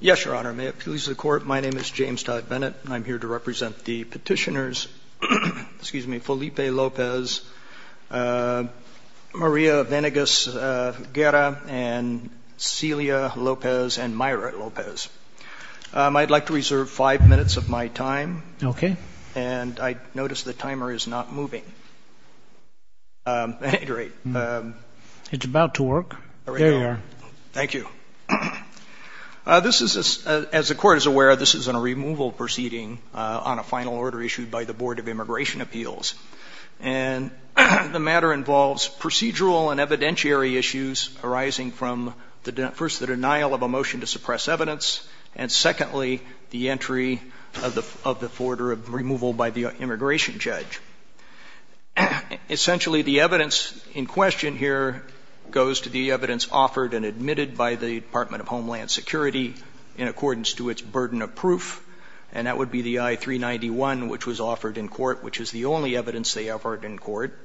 Yes, Your Honor. May it please the Court, my name is James Todd Bennett, and I'm here to represent the petitioners Felipe Lopez, Maria Venegas Guerra, and Celia Lopez and Mayra Lopez. I'd like to reserve five minutes of my time, and I notice the timer is not moving. At any rate... It's about to work. There you are. Thank you. This is, as the Court is aware, this is a removal proceeding on a final order issued by the Board of Immigration Appeals. And the matter involves procedural and evidentiary issues arising from, first, the denial of a motion to suppress evidence, and secondly, the entry of the order of removal by the immigration judge. Essentially, the evidence in question here goes to the evidence offered and admitted by the Department of Homeland Security in accordance to its burden of proof, and that would be the I-391, which was offered in court, which is the only evidence they offered in court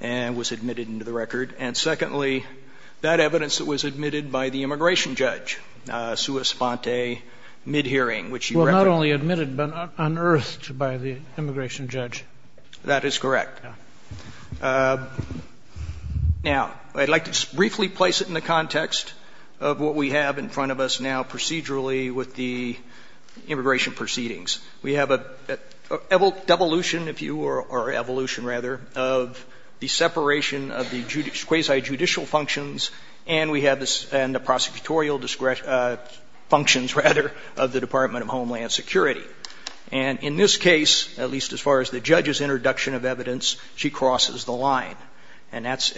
and was admitted into the record. And secondly, that evidence that was admitted by the immigration judge, sua sponte, mid-hearing, which you referred to... Well, not only admitted, but unearthed by the immigration judge. That is correct. Now, I'd like to briefly place it in the context of what we have in front of us now procedurally with the immigration proceedings. We have a devolution, if you will, or evolution, rather, of the separation of the quasi-judicial functions, and we have the prosecutorial functions, rather, of the Department of Homeland Security. And in this case, at least as far as the judge's introduction of evidence, she crosses the line. And that's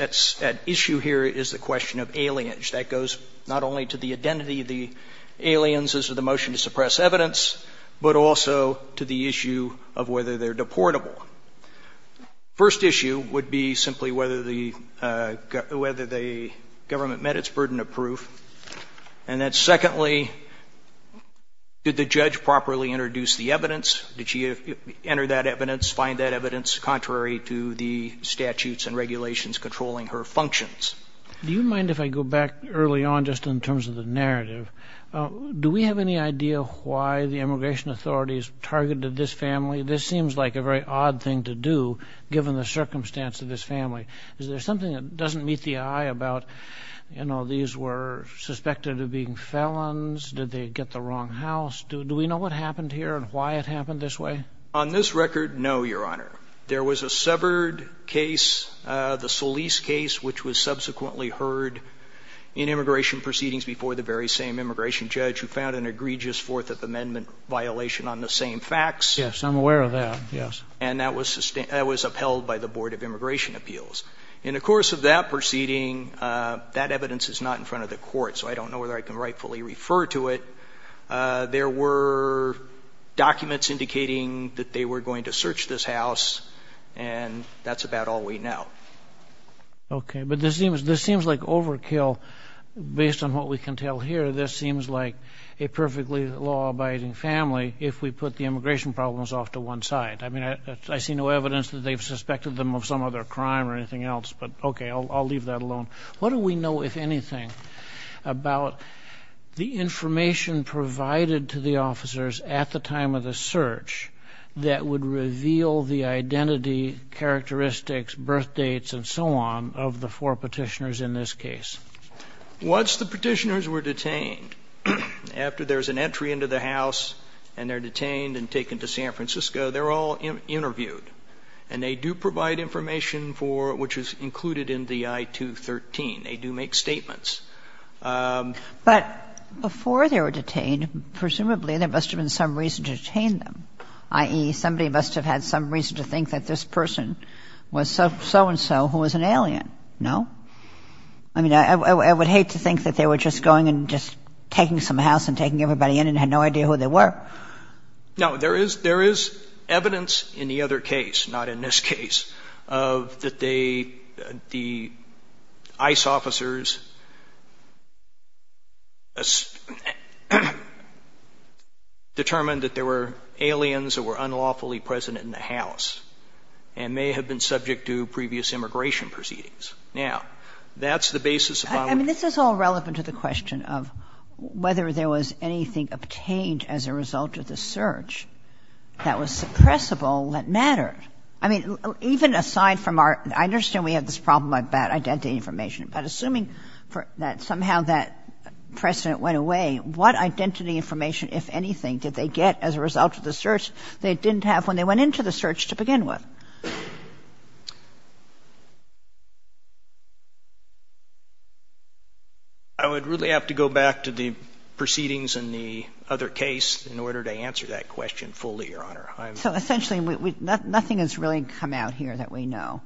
at issue here is the question of aliens. That goes not only to the identity of the aliens as to the motion to suppress evidence, but also to the issue of whether they're deportable. First issue would be simply whether the government met its burden of proof, and that, secondly, did the judge properly introduce the evidence? Did she enter that evidence, find that evidence contrary to the statutes and regulations controlling her functions? Do you mind if I go back early on just in terms of the narrative? Do we have any idea why the immigration authorities targeted this family? This seems like a very odd thing to do, given the circumstance of this family. Is there something that doesn't meet the eye about, you know, these were suspected of being felons? Did they get the wrong house? Do we know what happened here and why it happened this way? On this record, no, Your Honor. There was a subvert case, the Solis case, which was subsequently heard in immigration proceedings before the very same immigration judge, who found an egregious Fourth Amendment violation on the same facts. Yes, I'm aware of that, yes. And that was upheld by the Board of Immigration Appeals. In the course of that proceeding, that evidence is not in front of the court, so I don't know whether I can rightfully refer to it. There were documents indicating that they were going to search this house, and that's about all we know. Okay. But this seems like overkill. Based on what we can tell here, this seems like a perfectly law-abiding family, if we put the immigration problems off to one side. I mean, I see no evidence that they've suspected them of some other crime or anything else, but, okay, I'll leave that alone. What do we know, if anything, about the information provided to the officers at the time of the search that would reveal the identity, characteristics, birth dates, and so on, of the four Petitioners in this case? Once the Petitioners were detained, after there's an entry into the house and they're detained and taken to San Francisco, they're all interviewed. And they do provide information for, which is included in the I-213. They do make statements. But before they were detained, presumably there must have been some reason to detain them, i.e., somebody must have had some reason to think that this person was so-and-so who was an alien. No? I mean, I would hate to think that they were just going and just taking some house and taking everybody in and had no idea who they were. No. There is evidence in the other case, not in this case, of that they, the ICE officers determined that there were aliens that were unlawfully present in the house and may have been subject to previous immigration proceedings. Now, that's the basis of our question. I mean, this is all relevant to the question of whether there was anything obtained as a result of the search that was suppressible that mattered. I mean, even aside from our ‑‑ I understand we have this problem about identity information, but assuming that somehow that precedent went away, what identity information, if anything, did they get as a result of the search they didn't have when they went into the search to begin with? I would really have to go back to the proceedings in the other case in order to answer that question fully, Your Honor. So essentially, nothing has really come out here that we know.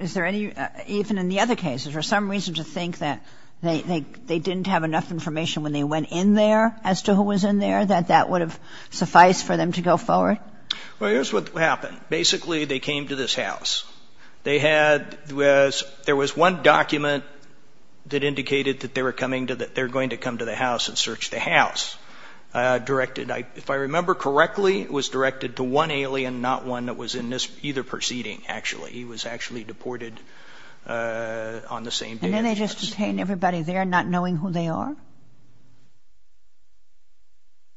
Is there any ‑‑ even in the other cases, is there some reason to think that they didn't have enough information when they went in there as to who was in there, that that would have gone forward? Well, here's what happened. Basically, they came to this house. They had ‑‑ there was one document that indicated that they were coming to ‑‑ that they were going to come to the house and search the house. Directed, if I remember correctly, it was directed to one alien, not one that was in either proceeding, actually. He was actually deported on the same day. And then they just detained everybody there, not knowing who they are?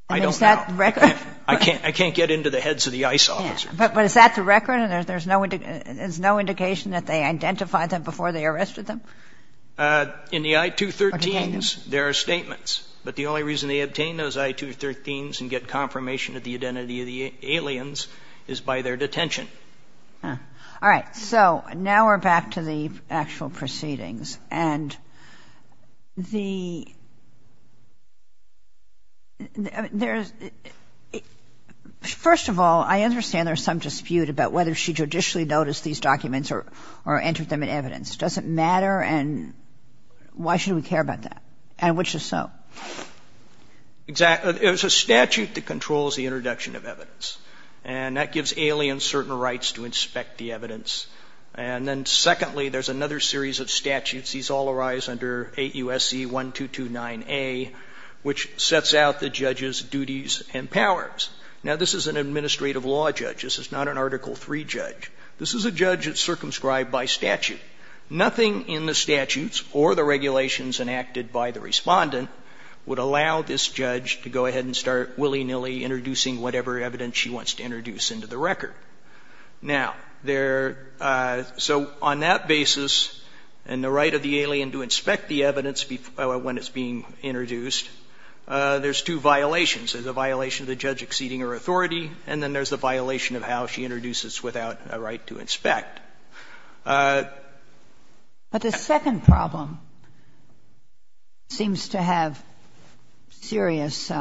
I don't know. Is that the record? I can't get into the heads of the ICE officers. But is that the record? And there's no indication that they identified them before they arrested them? In the I-213s, there are statements. But the only reason they obtained those I-213s and get confirmation of the identity of the aliens is by their detention. All right. So now we're back to the actual proceedings. And the ‑‑ there's ‑‑ first of all, I understand there's some dispute about whether she judicially noticed these documents or entered them in evidence. Does it matter? And why should we care about that? And which is so? Exactly. It was a statute that controls the introduction of evidence. And that gives aliens certain rights to inspect the evidence. And then, secondly, there's another series of statutes. These all arise under 8 U.S.C. 1229A, which sets out the judge's duties and powers. Now, this is an administrative law judge. This is not an Article III judge. This is a judge that's circumscribed by statute. Nothing in the statutes or the regulations enacted by the Respondent would allow this judge to go ahead and start willy‑nilly introducing whatever evidence she wants to introduce into the record. Now, there ‑‑ so on that basis, and the right of the alien to inspect the evidence when it's being introduced, there's two violations. There's a violation of the judge exceeding her authority, and then there's the violation of how she introduces without a right to inspect. But the second problem seems to have serious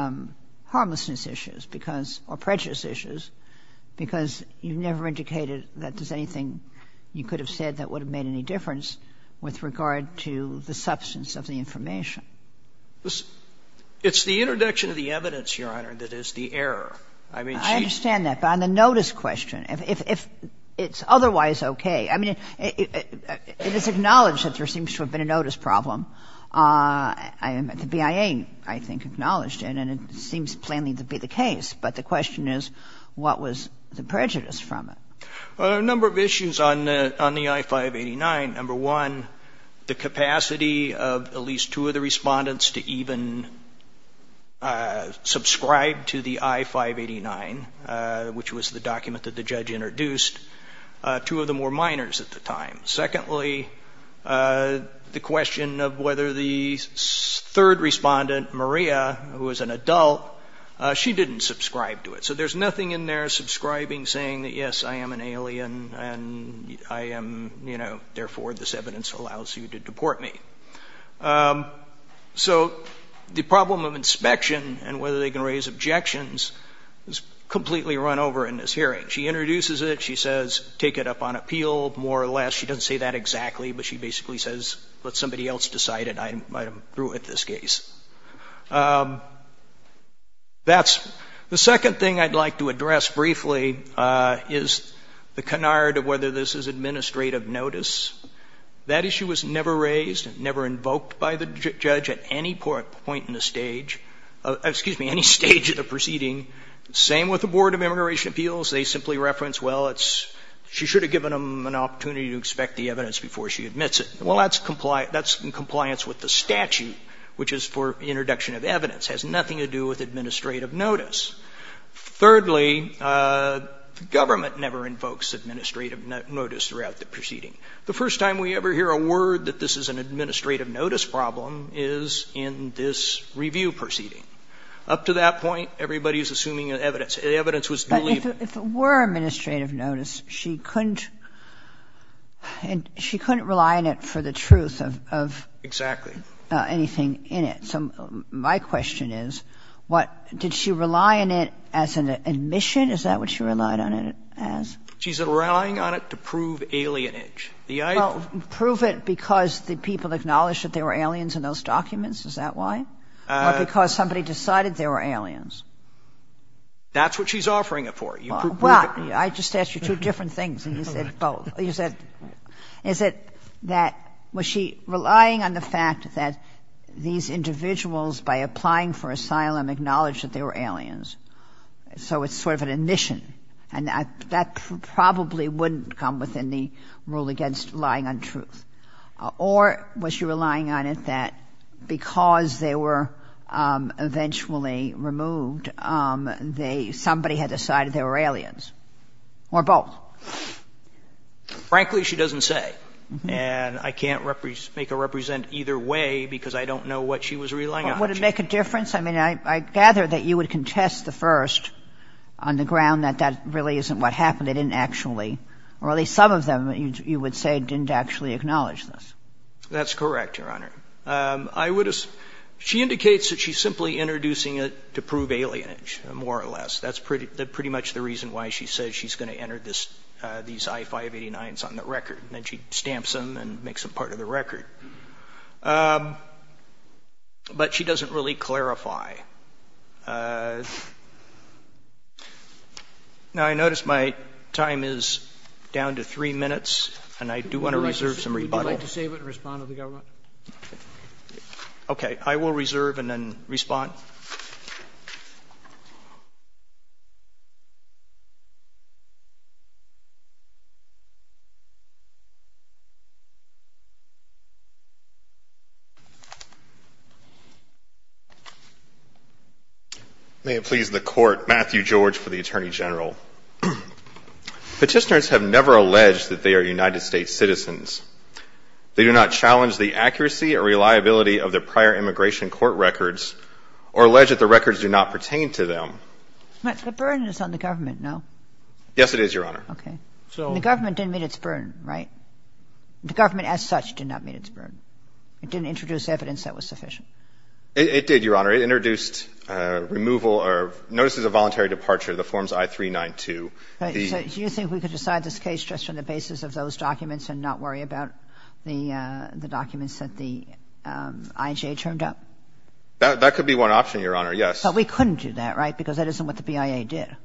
harmlessness issues, because the judge has never indicated that there's anything you could have said that would have made any difference with regard to the substance of the information. It's the introduction of the evidence, Your Honor, that is the error. I mean, she ‑‑ I understand that. But on the notice question, if it's otherwise okay, I mean, it is acknowledged that there seems to have been a notice problem. The BIA, I think, acknowledged it, and it seems plainly to be the case. But the question is, what was the prejudice from it? Well, there are a number of issues on the I‑589. Number one, the capacity of at least two of the Respondents to even subscribe to the I‑589, which was the document that the judge introduced. Two of them were minors at the time. Secondly, the question of whether the third Respondent, Maria, who was an adult, she didn't subscribe to it. So there's nothing in there subscribing, saying that, yes, I am an alien, and I am, you know, therefore this evidence allows you to deport me. So the problem of inspection and whether they can raise objections is completely run over in this hearing. She introduces it. She says, take it up on appeal, more or less. She doesn't say that exactly, but she basically says, let somebody else decide it. I am through with this case. That's ‑‑ the second thing I'd like to address briefly is the canard of whether this is administrative notice. That issue was never raised, never invoked by the judge at any point in the stage ‑‑ excuse me, any stage of the proceeding. Same with the Board of Immigration Appeals. They simply reference, well, it's, she should have given them an opportunity to expect the evidence before she admits it. Well, that's in compliance with the statute, which is for introduction of evidence, has nothing to do with administrative notice. Thirdly, the government never invokes administrative notice throughout the proceeding. The first time we ever hear a word that this is an administrative notice problem is in this review proceeding. Up to that point, everybody is assuming evidence. The evidence was ‑‑ But if it were administrative notice, she couldn't ‑‑ she couldn't rely on it for the truth of ‑‑ Exactly. ‑‑ anything in it. So my question is, what, did she rely on it as an admission? Is that what she relied on it as? She's relying on it to prove alienage. Well, prove it because the people acknowledged that there were aliens in those documents, is that why? Or because somebody decided there were aliens? That's what she's offering it for. Well, I just asked you two different things, and you said both. You said, is it that, was she relying on the fact that these individuals, by applying for asylum, acknowledged that there were aliens? So it's sort of an admission. And that probably wouldn't come within the rule against relying on truth. Or was she relying on it that because they were eventually removed, they ‑‑ somebody had decided there were aliens? Or both? Frankly, she doesn't say. And I can't make her represent either way because I don't know what she was relying on. Would it make a difference? I mean, I gather that you would contest the first on the record that that really isn't what happened. They didn't actually, or at least some of them, you would say, didn't actually acknowledge this. That's correct, Your Honor. I would ‑‑ she indicates that she's simply introducing it to prove alienage, more or less. That's pretty much the reason why she says she's going to enter this, these I-589s on the record. And then she stamps them and makes them part of the record. But she doesn't really clarify. Now, I notice my time is down to three minutes, and I do want to reserve some rebuttal. Would you like to save it and respond to the government? Okay. I will reserve and then respond. May it please the Court. Matthew George for the Attorney General. Petitioners have never alleged that they are United States citizens. They do not challenge the accuracy or reliability of their prior immigration court records or allege that the records do not pertain to them. The burden is on the government, no? Yes, it is, Your Honor. Okay. The government didn't meet its burden, right? The government as such did not meet its burden. It didn't introduce evidence that was sufficient. It did, Your Honor. It introduced removal or notices of voluntary departure of the forms I-392. Do you think we could decide this case just on the basis of those documents and not worry about the documents that the IJA turned up? That could be one option, Your Honor, yes. But we couldn't do that, right, because that isn't what the BIA did.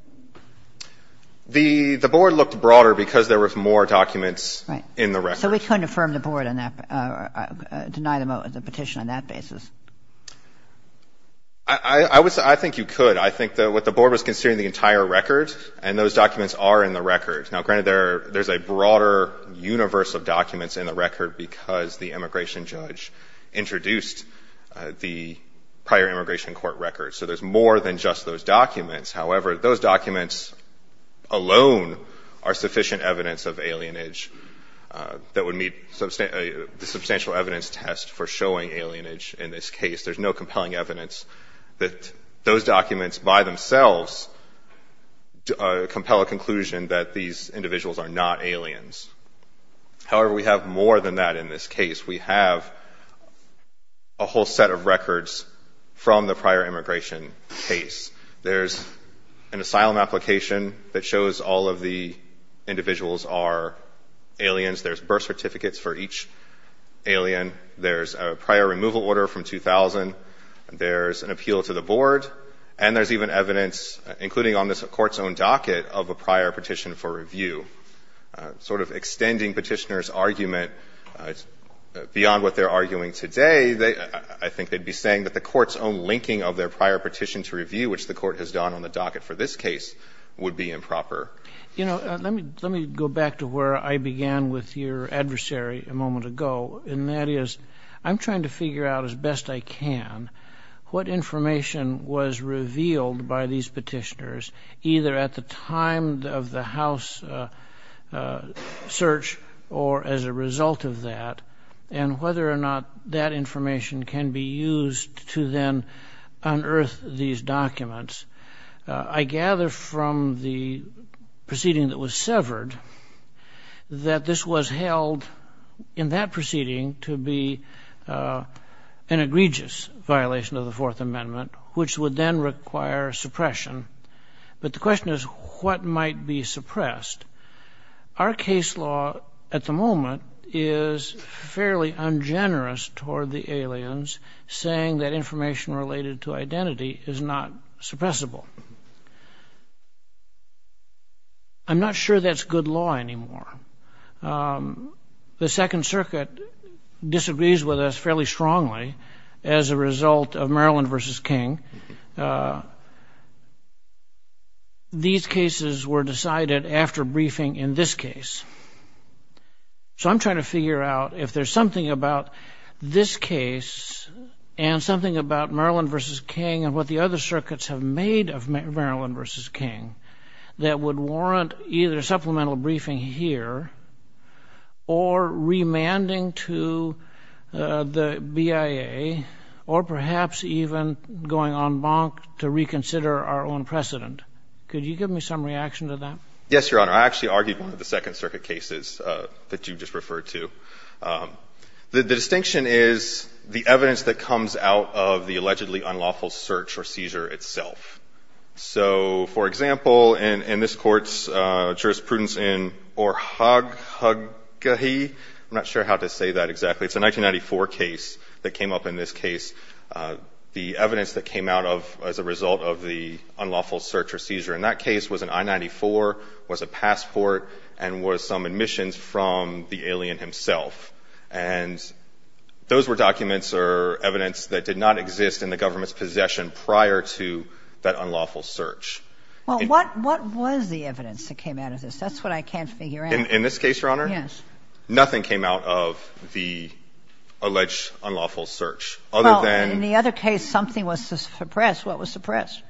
The board looked broader because there were more documents in the record. Right. So we couldn't affirm the board on that or deny the petition on that basis. I would say I think you could. I think what the board was considering the entire record, and those documents are in the record. Now, granted, there's a broader universe of documents in the record because the immigration judge introduced the prior immigration court records. So there's more than just those documents. However, those documents alone are sufficient evidence of alienage. That would meet the substantial evidence test for showing alienage in this case. There's no compelling evidence that those documents by themselves compel a conclusion that these individuals are not aliens. However, we have more than that in this case. We have a whole set of records from the prior immigration case. There's an asylum application that shows all of the individuals are aliens. There's birth certificates for each alien. There's a prior removal order from 2000. There's an appeal to the board. And there's even evidence, including on this Court's own docket, of a prior petition for review. Sort of extending Petitioner's argument beyond what they're arguing today, I think they'd be saying that the Court's own linking of their prior petition to review, which the Court has done on the docket for this case, would be improper. You know, let me go back to where I began with your adversary a moment ago, and that is I'm trying to figure out as best I can what information was revealed by these Petitioners, either at the time of the House search or as a result of that, and whether or not that information can be used to then unearth these documents. I gather from the proceeding that was severed that this was held in that proceeding to be an egregious violation of the Fourth Amendment, which would then require suppression. Our case law at the moment is fairly ungenerous toward the aliens, saying that information related to identity is not suppressible. I'm not sure that's good law anymore. The Second Circuit disagrees with us fairly strongly as a result of Maryland v. King. These cases were decided after briefing in this case. So I'm trying to figure out if there's something about this case and something about Maryland v. King and what the other circuits have made of Maryland v. King that would warrant either supplemental briefing here or remanding to the BIA, or perhaps even going en banc to reconsider our own precedent. Could you give me some reaction to that? Yes, Your Honor. I actually argued one of the Second Circuit cases that you just referred to. The distinction is the evidence that comes out of the allegedly unlawful search or seizure itself. So, for example, in this Court's jurisprudence in Orhagahi, I'm not sure how to say that exactly. It's a 1994 case that came up in this case. The evidence that came out of as a result of the unlawful search or seizure in that case was an I-94, was a passport, and was some admissions from the alien himself. And those were documents or evidence that did not exist in the government's possession prior to that unlawful search. Well, what was the evidence that came out of this? That's what I can't figure out. In this case, Your Honor? Yes. Nothing came out of the alleged unlawful search. Other than the other case, something was suppressed. What was suppressed?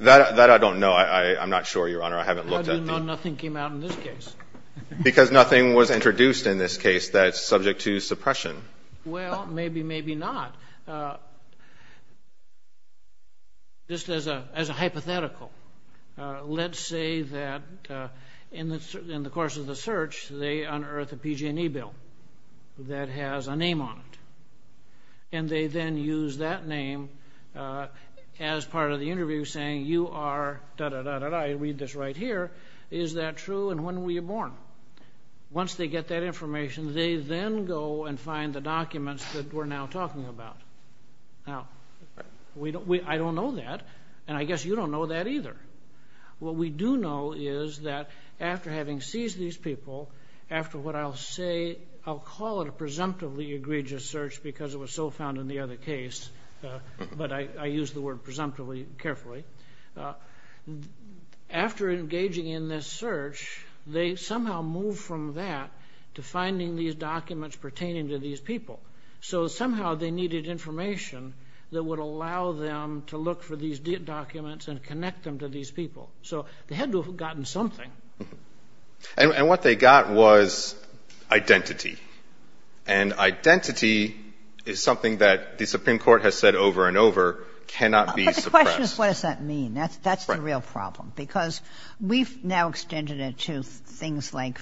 That I don't know. I'm not sure, Your Honor. I haven't looked at the... How do you know nothing came out in this case? Because nothing was introduced in this case that's subject to suppression. Well, maybe, maybe not. Just as a hypothetical. Let's say that in the course of the search, they unearth a PG&E bill that has a name on it, and they then use that name as part of the interview saying, you are da-da-da-da-da. Read this right here. Is that true, and when were you born? Once they get that information, they then go and find the documents that we're now talking about. Now, I don't know that. And I guess you don't know that either. What we do know is that after having seized these people, after what I'll say, I'll call it a presumptively egregious search because it was so found in the other case, but I use the word presumptively carefully. After engaging in this search, they somehow moved from that to finding these documents pertaining to these people. So somehow they needed information that would allow them to look for these documents and connect them to these people. So they had to have gotten something. And what they got was identity. And identity is something that the Supreme Court has said over and over cannot be suppressed. But the question is, what does that mean? That's the real problem because we've now extended it to things like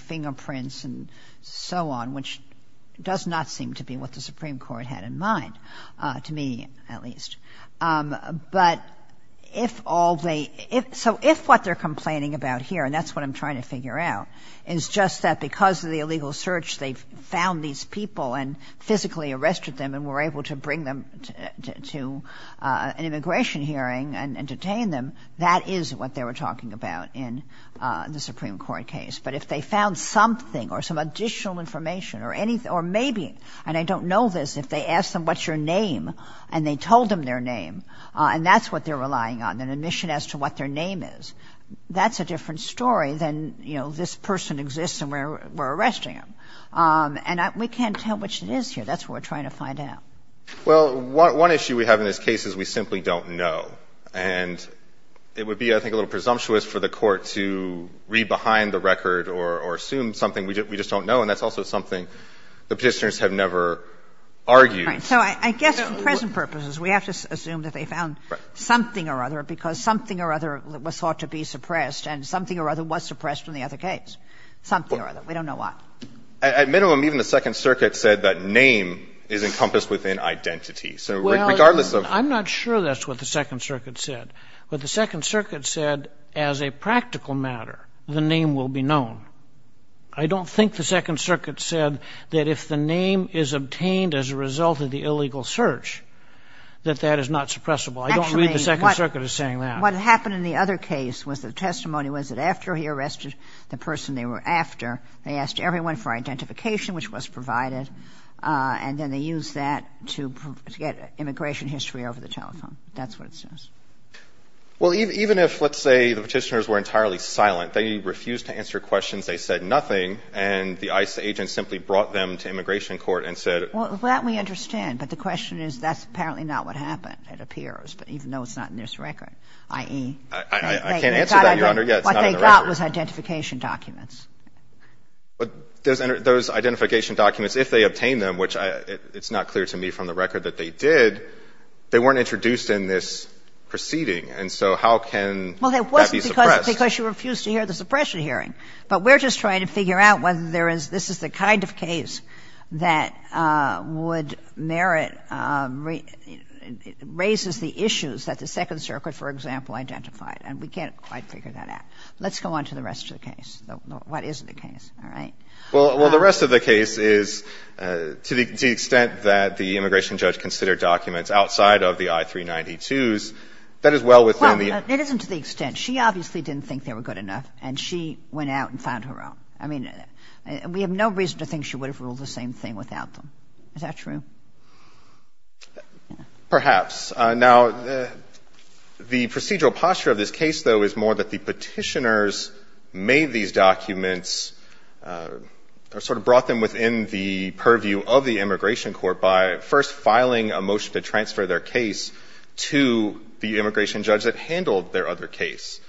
the Supreme Court had in mind, to me at least. But if all they ‑‑ so if what they're complaining about here, and that's what I'm trying to figure out, is just that because of the illegal search, they found these people and physically arrested them and were able to bring them to an immigration hearing and detain them, that is what they were talking about in the Supreme Court case. But if they found something or some additional information or maybe, and I don't know this, if they asked them, what's your name, and they told them their name, and that's what they're relying on, an admission as to what their name is, that's a different story than, you know, this person exists and we're arresting him. And we can't tell which it is here. That's what we're trying to find out. Well, one issue we have in this case is we simply don't know. And it would be, I think, a little presumptuous for the court to read behind the record or assume something we just don't know. And that's also something the Petitioners have never argued. Right. So I guess for present purposes, we have to assume that they found something or other, because something or other was thought to be suppressed, and something or other was suppressed in the other case. Something or other. We don't know what. At minimum, even the Second Circuit said that name is encompassed within identity. So regardless of the... Well, I'm not sure that's what the Second Circuit said. What the Second Circuit said, as a practical matter, the name will be known. I don't think the Second Circuit said that if the name is obtained as a result of the illegal search, that that is not suppressible. I don't believe the Second Circuit is saying that. Actually, what happened in the other case was the testimony was that after he arrested the person they were after, they asked everyone for identification, which was provided. And then they used that to get immigration history over the telephone. That's what it says. Well, even if, let's say, the Petitioners were entirely silent, they refused to answer questions. They said nothing. And the ICE agent simply brought them to immigration court and said... Well, that we understand. But the question is that's apparently not what happened, it appears, even though it's not in this record, i.e. I can't answer that, Your Honor. What they got was identification documents. Those identification documents, if they obtained them, which it's not clear to me from the record that they did, they weren't introduced in this proceeding. And so how can that be suppressed? Well, it wasn't because you refused to hear the suppression hearing. But we're just trying to figure out whether there is this is the kind of case that would merit raises the issues that the Second Circuit, for example, identified. And we can't quite figure that out. Let's go on to the rest of the case. What is the case? All right. Well, the rest of the case is to the extent that the immigration judge considered documents outside of the I-392s, that is well within the... The extent. She obviously didn't think they were good enough, and she went out and found her own. I mean, we have no reason to think she would have ruled the same thing without them. Is that true? Perhaps. Now, the procedural posture of this case, though, is more that the Petitioners made these documents or sort of brought them within the purview of the immigration court by first filing a motion to transfer their case to the immigration judge because it handled their other case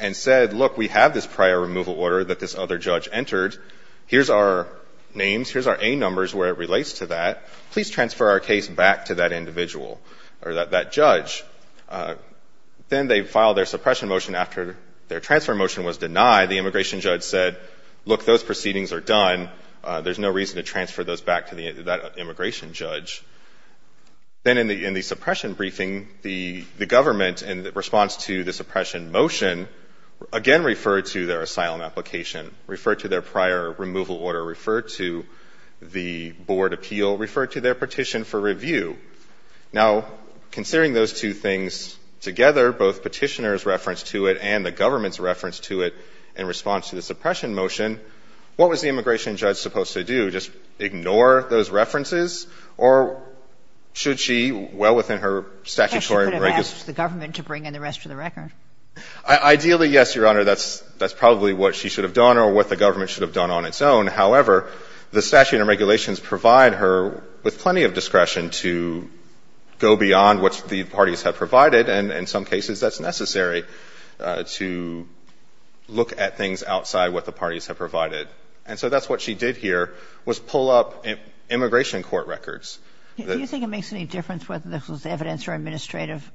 and said, look, we have this prior removal order that this other judge entered. Here's our names. Here's our A numbers where it relates to that. Please transfer our case back to that individual or that judge. Then they filed their suppression motion after their transfer motion was denied. The immigration judge said, look, those proceedings are done. There's no reason to transfer those back to that immigration judge. Then in the suppression briefing, the government, in response to the suppression motion, again referred to their asylum application, referred to their prior removal order, referred to the board appeal, referred to their petition for review. Now, considering those two things together, both Petitioners' reference to it and the government's reference to it in response to the suppression motion, what was the immigration judge supposed to do? Should she just ignore those references, or should she, well, within her statutory rigors? Kagan. She could have asked the government to bring in the rest of the record. Ideally, yes, Your Honor. That's probably what she should have done or what the government should have done on its own. However, the statutory and regulations provide her with plenty of discretion to go beyond what the parties have provided, and in some cases that's necessary to look at things outside what the parties have provided. And so that's what she did here, was pull up immigration court records. Do you think it makes any difference whether this was evidence or administrative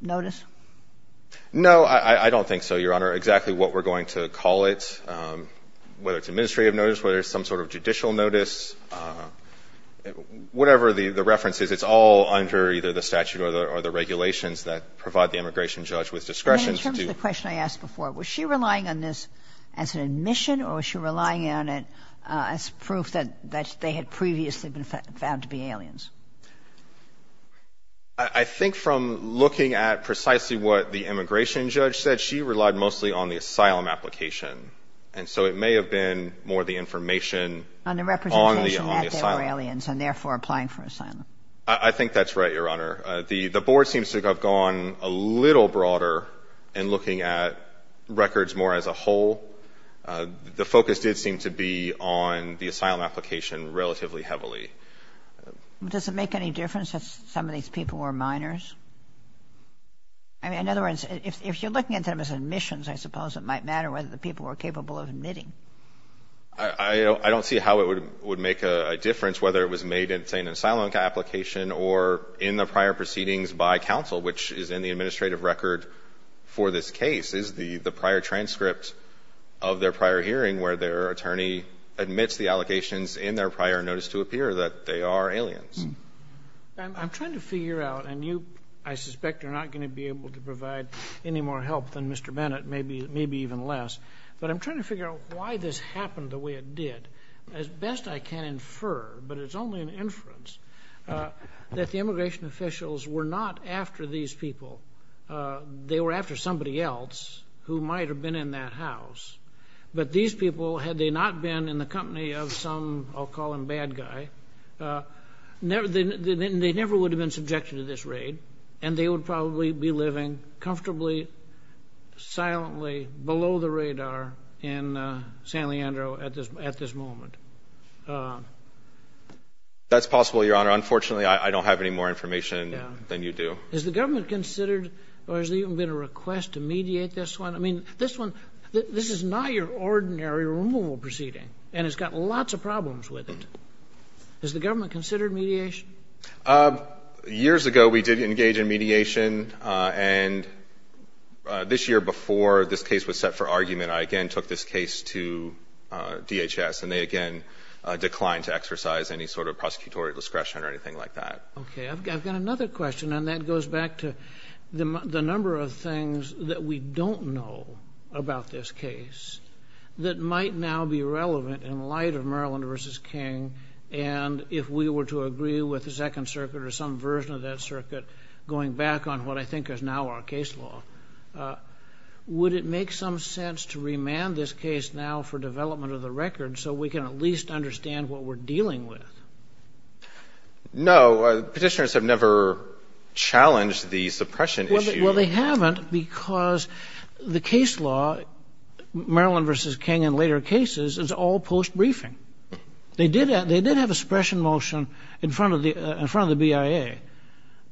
notice? No, I don't think so, Your Honor. Exactly what we're going to call it, whether it's administrative notice, whether it's some sort of judicial notice, whatever the reference is, it's all under either the statute or the regulations that provide the immigration judge with discretion to do. In terms of the question I asked before, was she relying on this as an admission or was she relying on it as proof that they had previously been found to be aliens? I think from looking at precisely what the immigration judge said, she relied mostly on the asylum application. And so it may have been more the information on the asylum. On the representation that they were aliens and therefore applying for asylum. I think that's right, Your Honor. The board seems to have gone a little broader in looking at records more as a whole. The focus did seem to be on the asylum application relatively heavily. Does it make any difference if some of these people were minors? I mean, in other words, if you're looking at them as admissions, I suppose it might matter whether the people were capable of admitting. I don't see how it would make a difference whether it was made in, say, an asylum application or in the prior proceedings by counsel, which is in the administrative record for this case, is the prior transcript of their prior hearing where their attorney admits the allegations in their prior notice to appear that they are aliens. I'm trying to figure out, and you, I suspect, are not going to be able to provide any more help than Mr. Bennett, maybe even less. But I'm trying to figure out why this happened the way it did. As best I can infer, but it's only an inference, that the immigration officials were not after these people. They were after somebody else who might have been in that house. But these people, had they not been in the company of some, I'll call him bad guy, they never would have been subjected to this raid, and they would probably be living comfortably, silently, below the radar in San Leandro at this moment. That's possible, Your Honor. Unfortunately, I don't have any more information than you do. Has the government considered or has there even been a request to mediate this one? I mean, this one, this is not your ordinary removal proceeding, and it's got lots of problems with it. Has the government considered mediation? Years ago, we did engage in mediation, and this year, before this case was set for argument, I again took this case to DHS, and they again declined to exercise any sort of prosecutorial discretion or anything like that. Okay. I've got another question, and that goes back to the number of things that we don't know about this case that might now be relevant in light of Maryland v. King, and if we were to agree with the Second Circuit or some version of that circuit, going back on what I think is now our case law, would it make some sense to remand this case now for development of the record so we can at least understand what we're dealing with? No. Petitioners have never challenged the suppression issue. Well, they haven't because the case law, Maryland v. King and later cases, is all post-briefing. They did have a suppression motion in front of the BIA,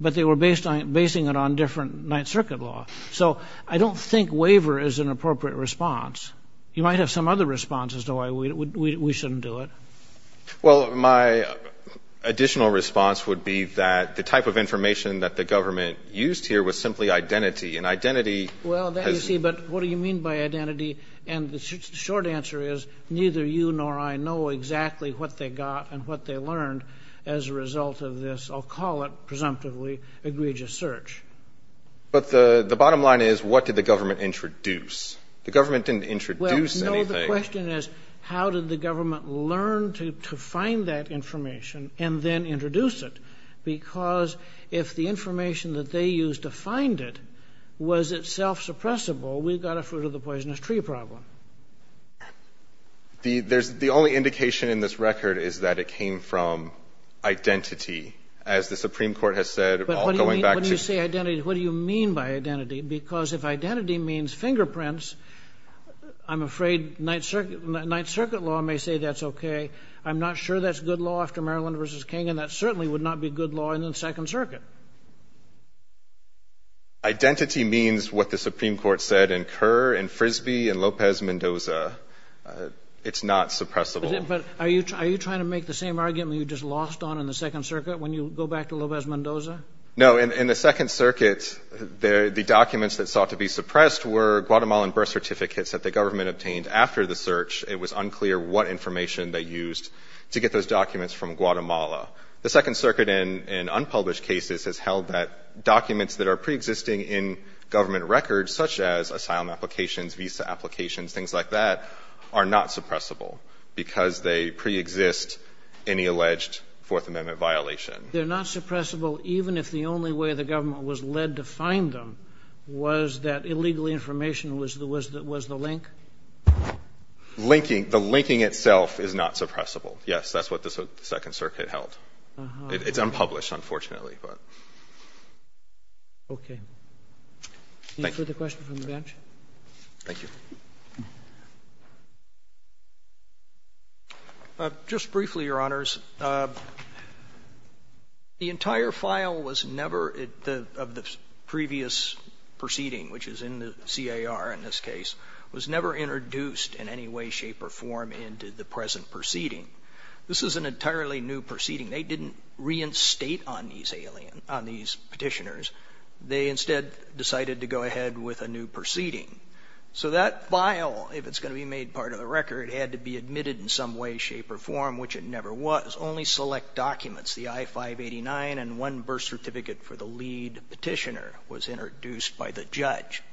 but they were basing it on different Ninth Circuit law. So I don't think waiver is an appropriate response. You might have some other response as to why we shouldn't do it. Well, my additional response would be that the type of information that the government used here was simply identity, and identity has... Well, then you see, but what do you mean by identity? And the short answer is, neither you nor I know exactly what they got and what they learned as a result of this, I'll call it presumptively, egregious search. But the bottom line is, what did the government introduce? The government didn't introduce anything. Well, no, the question is, how did the government learn to find that information and then introduce it? Because if the information that they used to find it was itself suppressible, we've got a fruit-of-the-poisonous-tree problem. The only indication in this record is that it came from identity, as the Supreme Court has said, going back to... But when you say identity, what do you mean by identity? Because if identity means fingerprints, I'm afraid Ninth Circuit law may say that's okay. I'm not sure that's good law after Maryland v. King, and that certainly would not be good law in the Second Circuit. Identity means what the Supreme Court said in Kerr and Frisbee and López Mendoza. It's not suppressible. But are you trying to make the same argument you just lost on in the Second Circuit when you go back to López Mendoza? No. In the Second Circuit, the documents that sought to be suppressed were Guatemalan birth certificates that the government obtained after the search. It was unclear what information they used to get those documents from Guatemala. The Second Circuit, in unpublished cases, has held that documents that are preexisting in government records, such as asylum applications, visa applications, things like that, are not suppressible because they preexist any alleged Fourth Amendment violation. They're not suppressible even if the only way the government was led to find them was that illegal information was the link? The linking itself is not suppressible. Yes, that's what the Second Circuit held. It's unpublished, unfortunately, but. Okay. Thank you. Any further questions from the bench? Thank you. Just briefly, Your Honors. The entire file was never, of the previous proceeding, which is in the CAR in this is an entirely new proceeding. They didn't reinstate on these petitioners. They instead decided to go ahead with a new proceeding. So that file, if it's going to be made part of the record, had to be admitted in some way, shape, or form, which it never was. Only select documents, the I-589 and one birth certificate for the lead petitioner was introduced by the judge.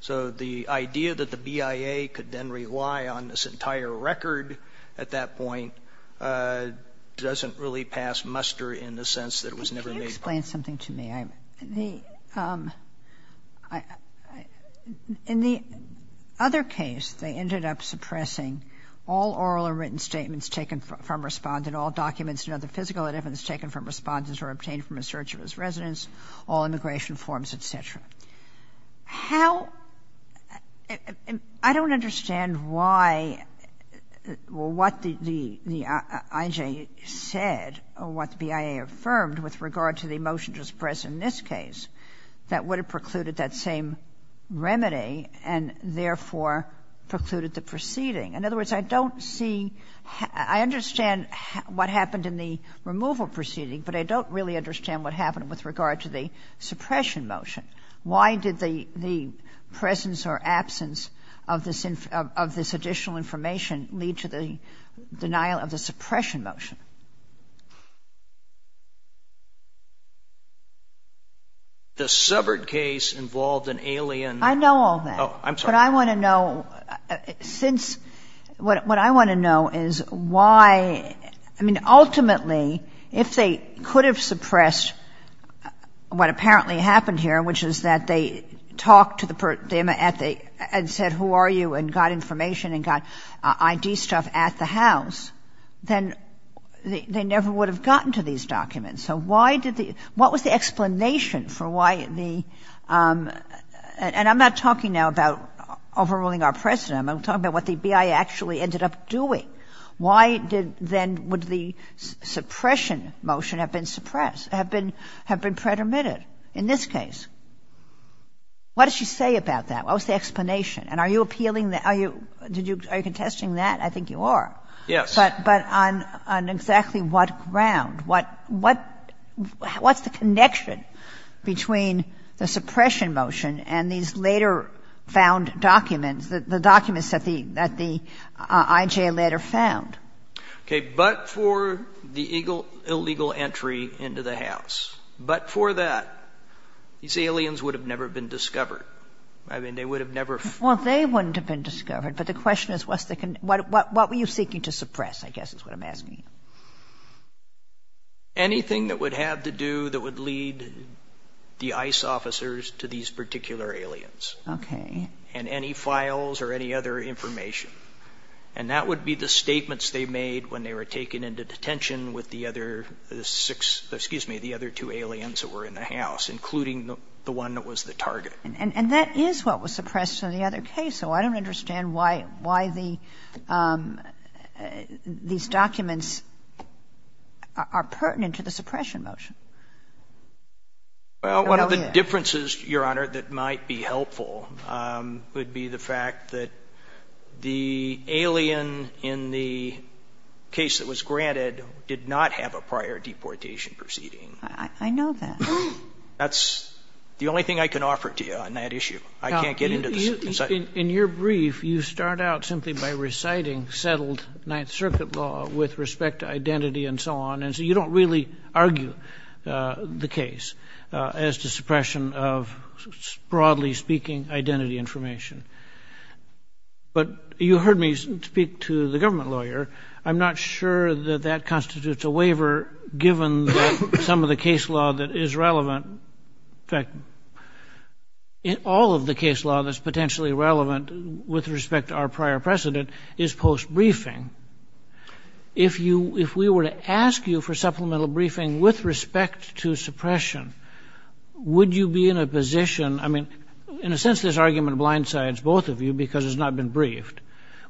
So the idea that the BIA could then rely on this entire record at that point doesn't really pass muster in the sense that it was never made part of the record. But can you explain something to me? In the other case, they ended up suppressing all oral and written statements taken from Respondent, all documents and other physical evidence taken from Respondent were obtained from a search of his residence, all immigration forms, et cetera. How — I don't understand why — what the IJ said or what the BIA affirmed with regard to the motion just present in this case, that would have precluded that same remedy and therefore precluded the proceeding. In other words, I don't see — I understand what happened in the removal proceeding, but I don't really understand what happened with regard to the suppression motion. Why did the presence or absence of this additional information lead to the denial of the suppression motion? The subvert case involved an alien — I know all that. Oh, I'm sorry. But I want to know, since — what I want to know is why — I mean, ultimately, if they could have suppressed what apparently happened here, which is that they talked to the — and said, who are you, and got information and got I.D. stuff at the house, then they never would have gotten to these documents. So why did the — what was the explanation for why the — and I'm not talking now about overruling our President. I'm talking about what the BIA actually ended up doing. Why did then — would the suppression motion have been suppressed, have been — have been pretermitted in this case? What does she say about that? What was the explanation? And are you appealing the — are you contesting that? I think you are. Yes. But on exactly what ground? What's the connection between the suppression motion and these later-found documents, the documents that the I.J. later found? Okay. But for the illegal entry into the house. But for that, these aliens would have never been discovered. I mean, they would have never — Well, they wouldn't have been discovered. But the question is, what's the — what were you seeking to suppress, I guess, is what I'm asking you. Anything that would have to do — that would lead the ICE officers to these particular aliens. Okay. And any files or any other information. And that would be the statements they made when they were taken into detention with the other six — excuse me, the other two aliens that were in the house, including the one that was the target. And that is what was suppressed in the other case. So I don't understand why the — these documents are pertinent to the suppression motion. Well, one of the differences, Your Honor, that might be helpful. Would be the fact that the alien in the case that was granted did not have a prior deportation proceeding. I know that. That's the only thing I can offer to you on that issue. I can't get into the — Now, in your brief, you start out simply by reciting settled Ninth Circuit law with respect to identity and so on. And so you don't really argue the case as to suppression of, broadly speaking, identity information. But you heard me speak to the government lawyer. I'm not sure that that constitutes a waiver, given some of the case law that is relevant. In fact, all of the case law that's potentially relevant with respect to our prior precedent is post-briefing. If you — if we were to ask you for supplemental briefing with respect to suppression, would you be in a position — I mean, in a sense, this argument blindsides both of you because it's not been briefed.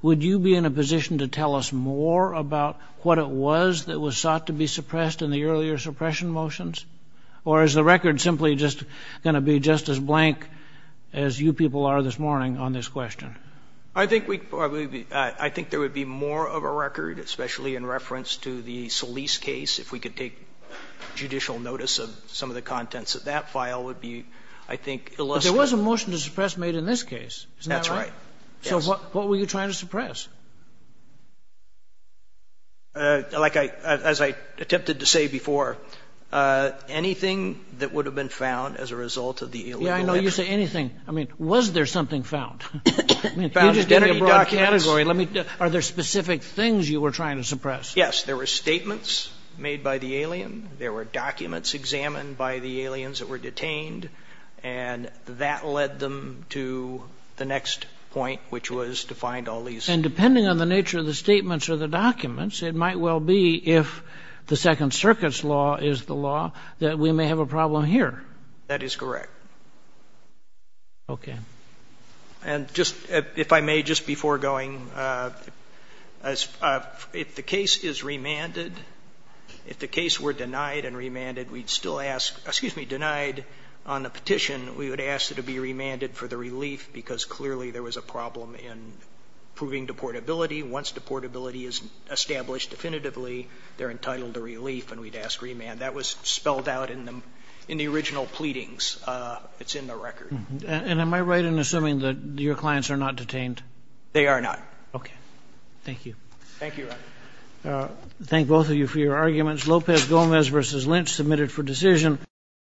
Would you be in a position to tell us more about what it was that was sought to be suppressed in the earlier suppression motions? Or is the record simply just going to be just as blank as you people are this morning on this question? I think we probably would be — I think there would be more of a record, especially in reference to the Solis case, if we could take judicial notice of some of the contents of that file would be, I think, illicit. But there was a motion to suppress made in this case. Isn't that right? That's right. So what were you trying to suppress? Like I — as I attempted to say before, anything that would have been found as a result of the illegal — Yeah, I know you say anything. I mean, was there something found? You just entered a broad category. Let me — are there specific things you were trying to suppress? Yes. There were statements made by the alien. There were documents examined by the aliens that were detained. And that led them to the next point, which was to find all these — And depending on the nature of the statements or the documents, it might well be, if the Second Circuit's law is the law, that we may have a problem here. That is correct. Okay. And just, if I may, just before going, if the case is remanded, if the case were denied and remanded, we'd still ask — excuse me, denied on the petition, we would ask it to be remanded for the relief, because clearly there was a problem in proving deportability. Once deportability is established definitively, they're entitled to relief, and we'd ask remand. That was spelled out in the original pleadings. It's in the record. And am I right in assuming that your clients are not detained? They are not. Okay. Thank you. Thank you, Your Honor. Thank both of you for your arguments. Lopez-Gomez v. Lynch, submitted for decision.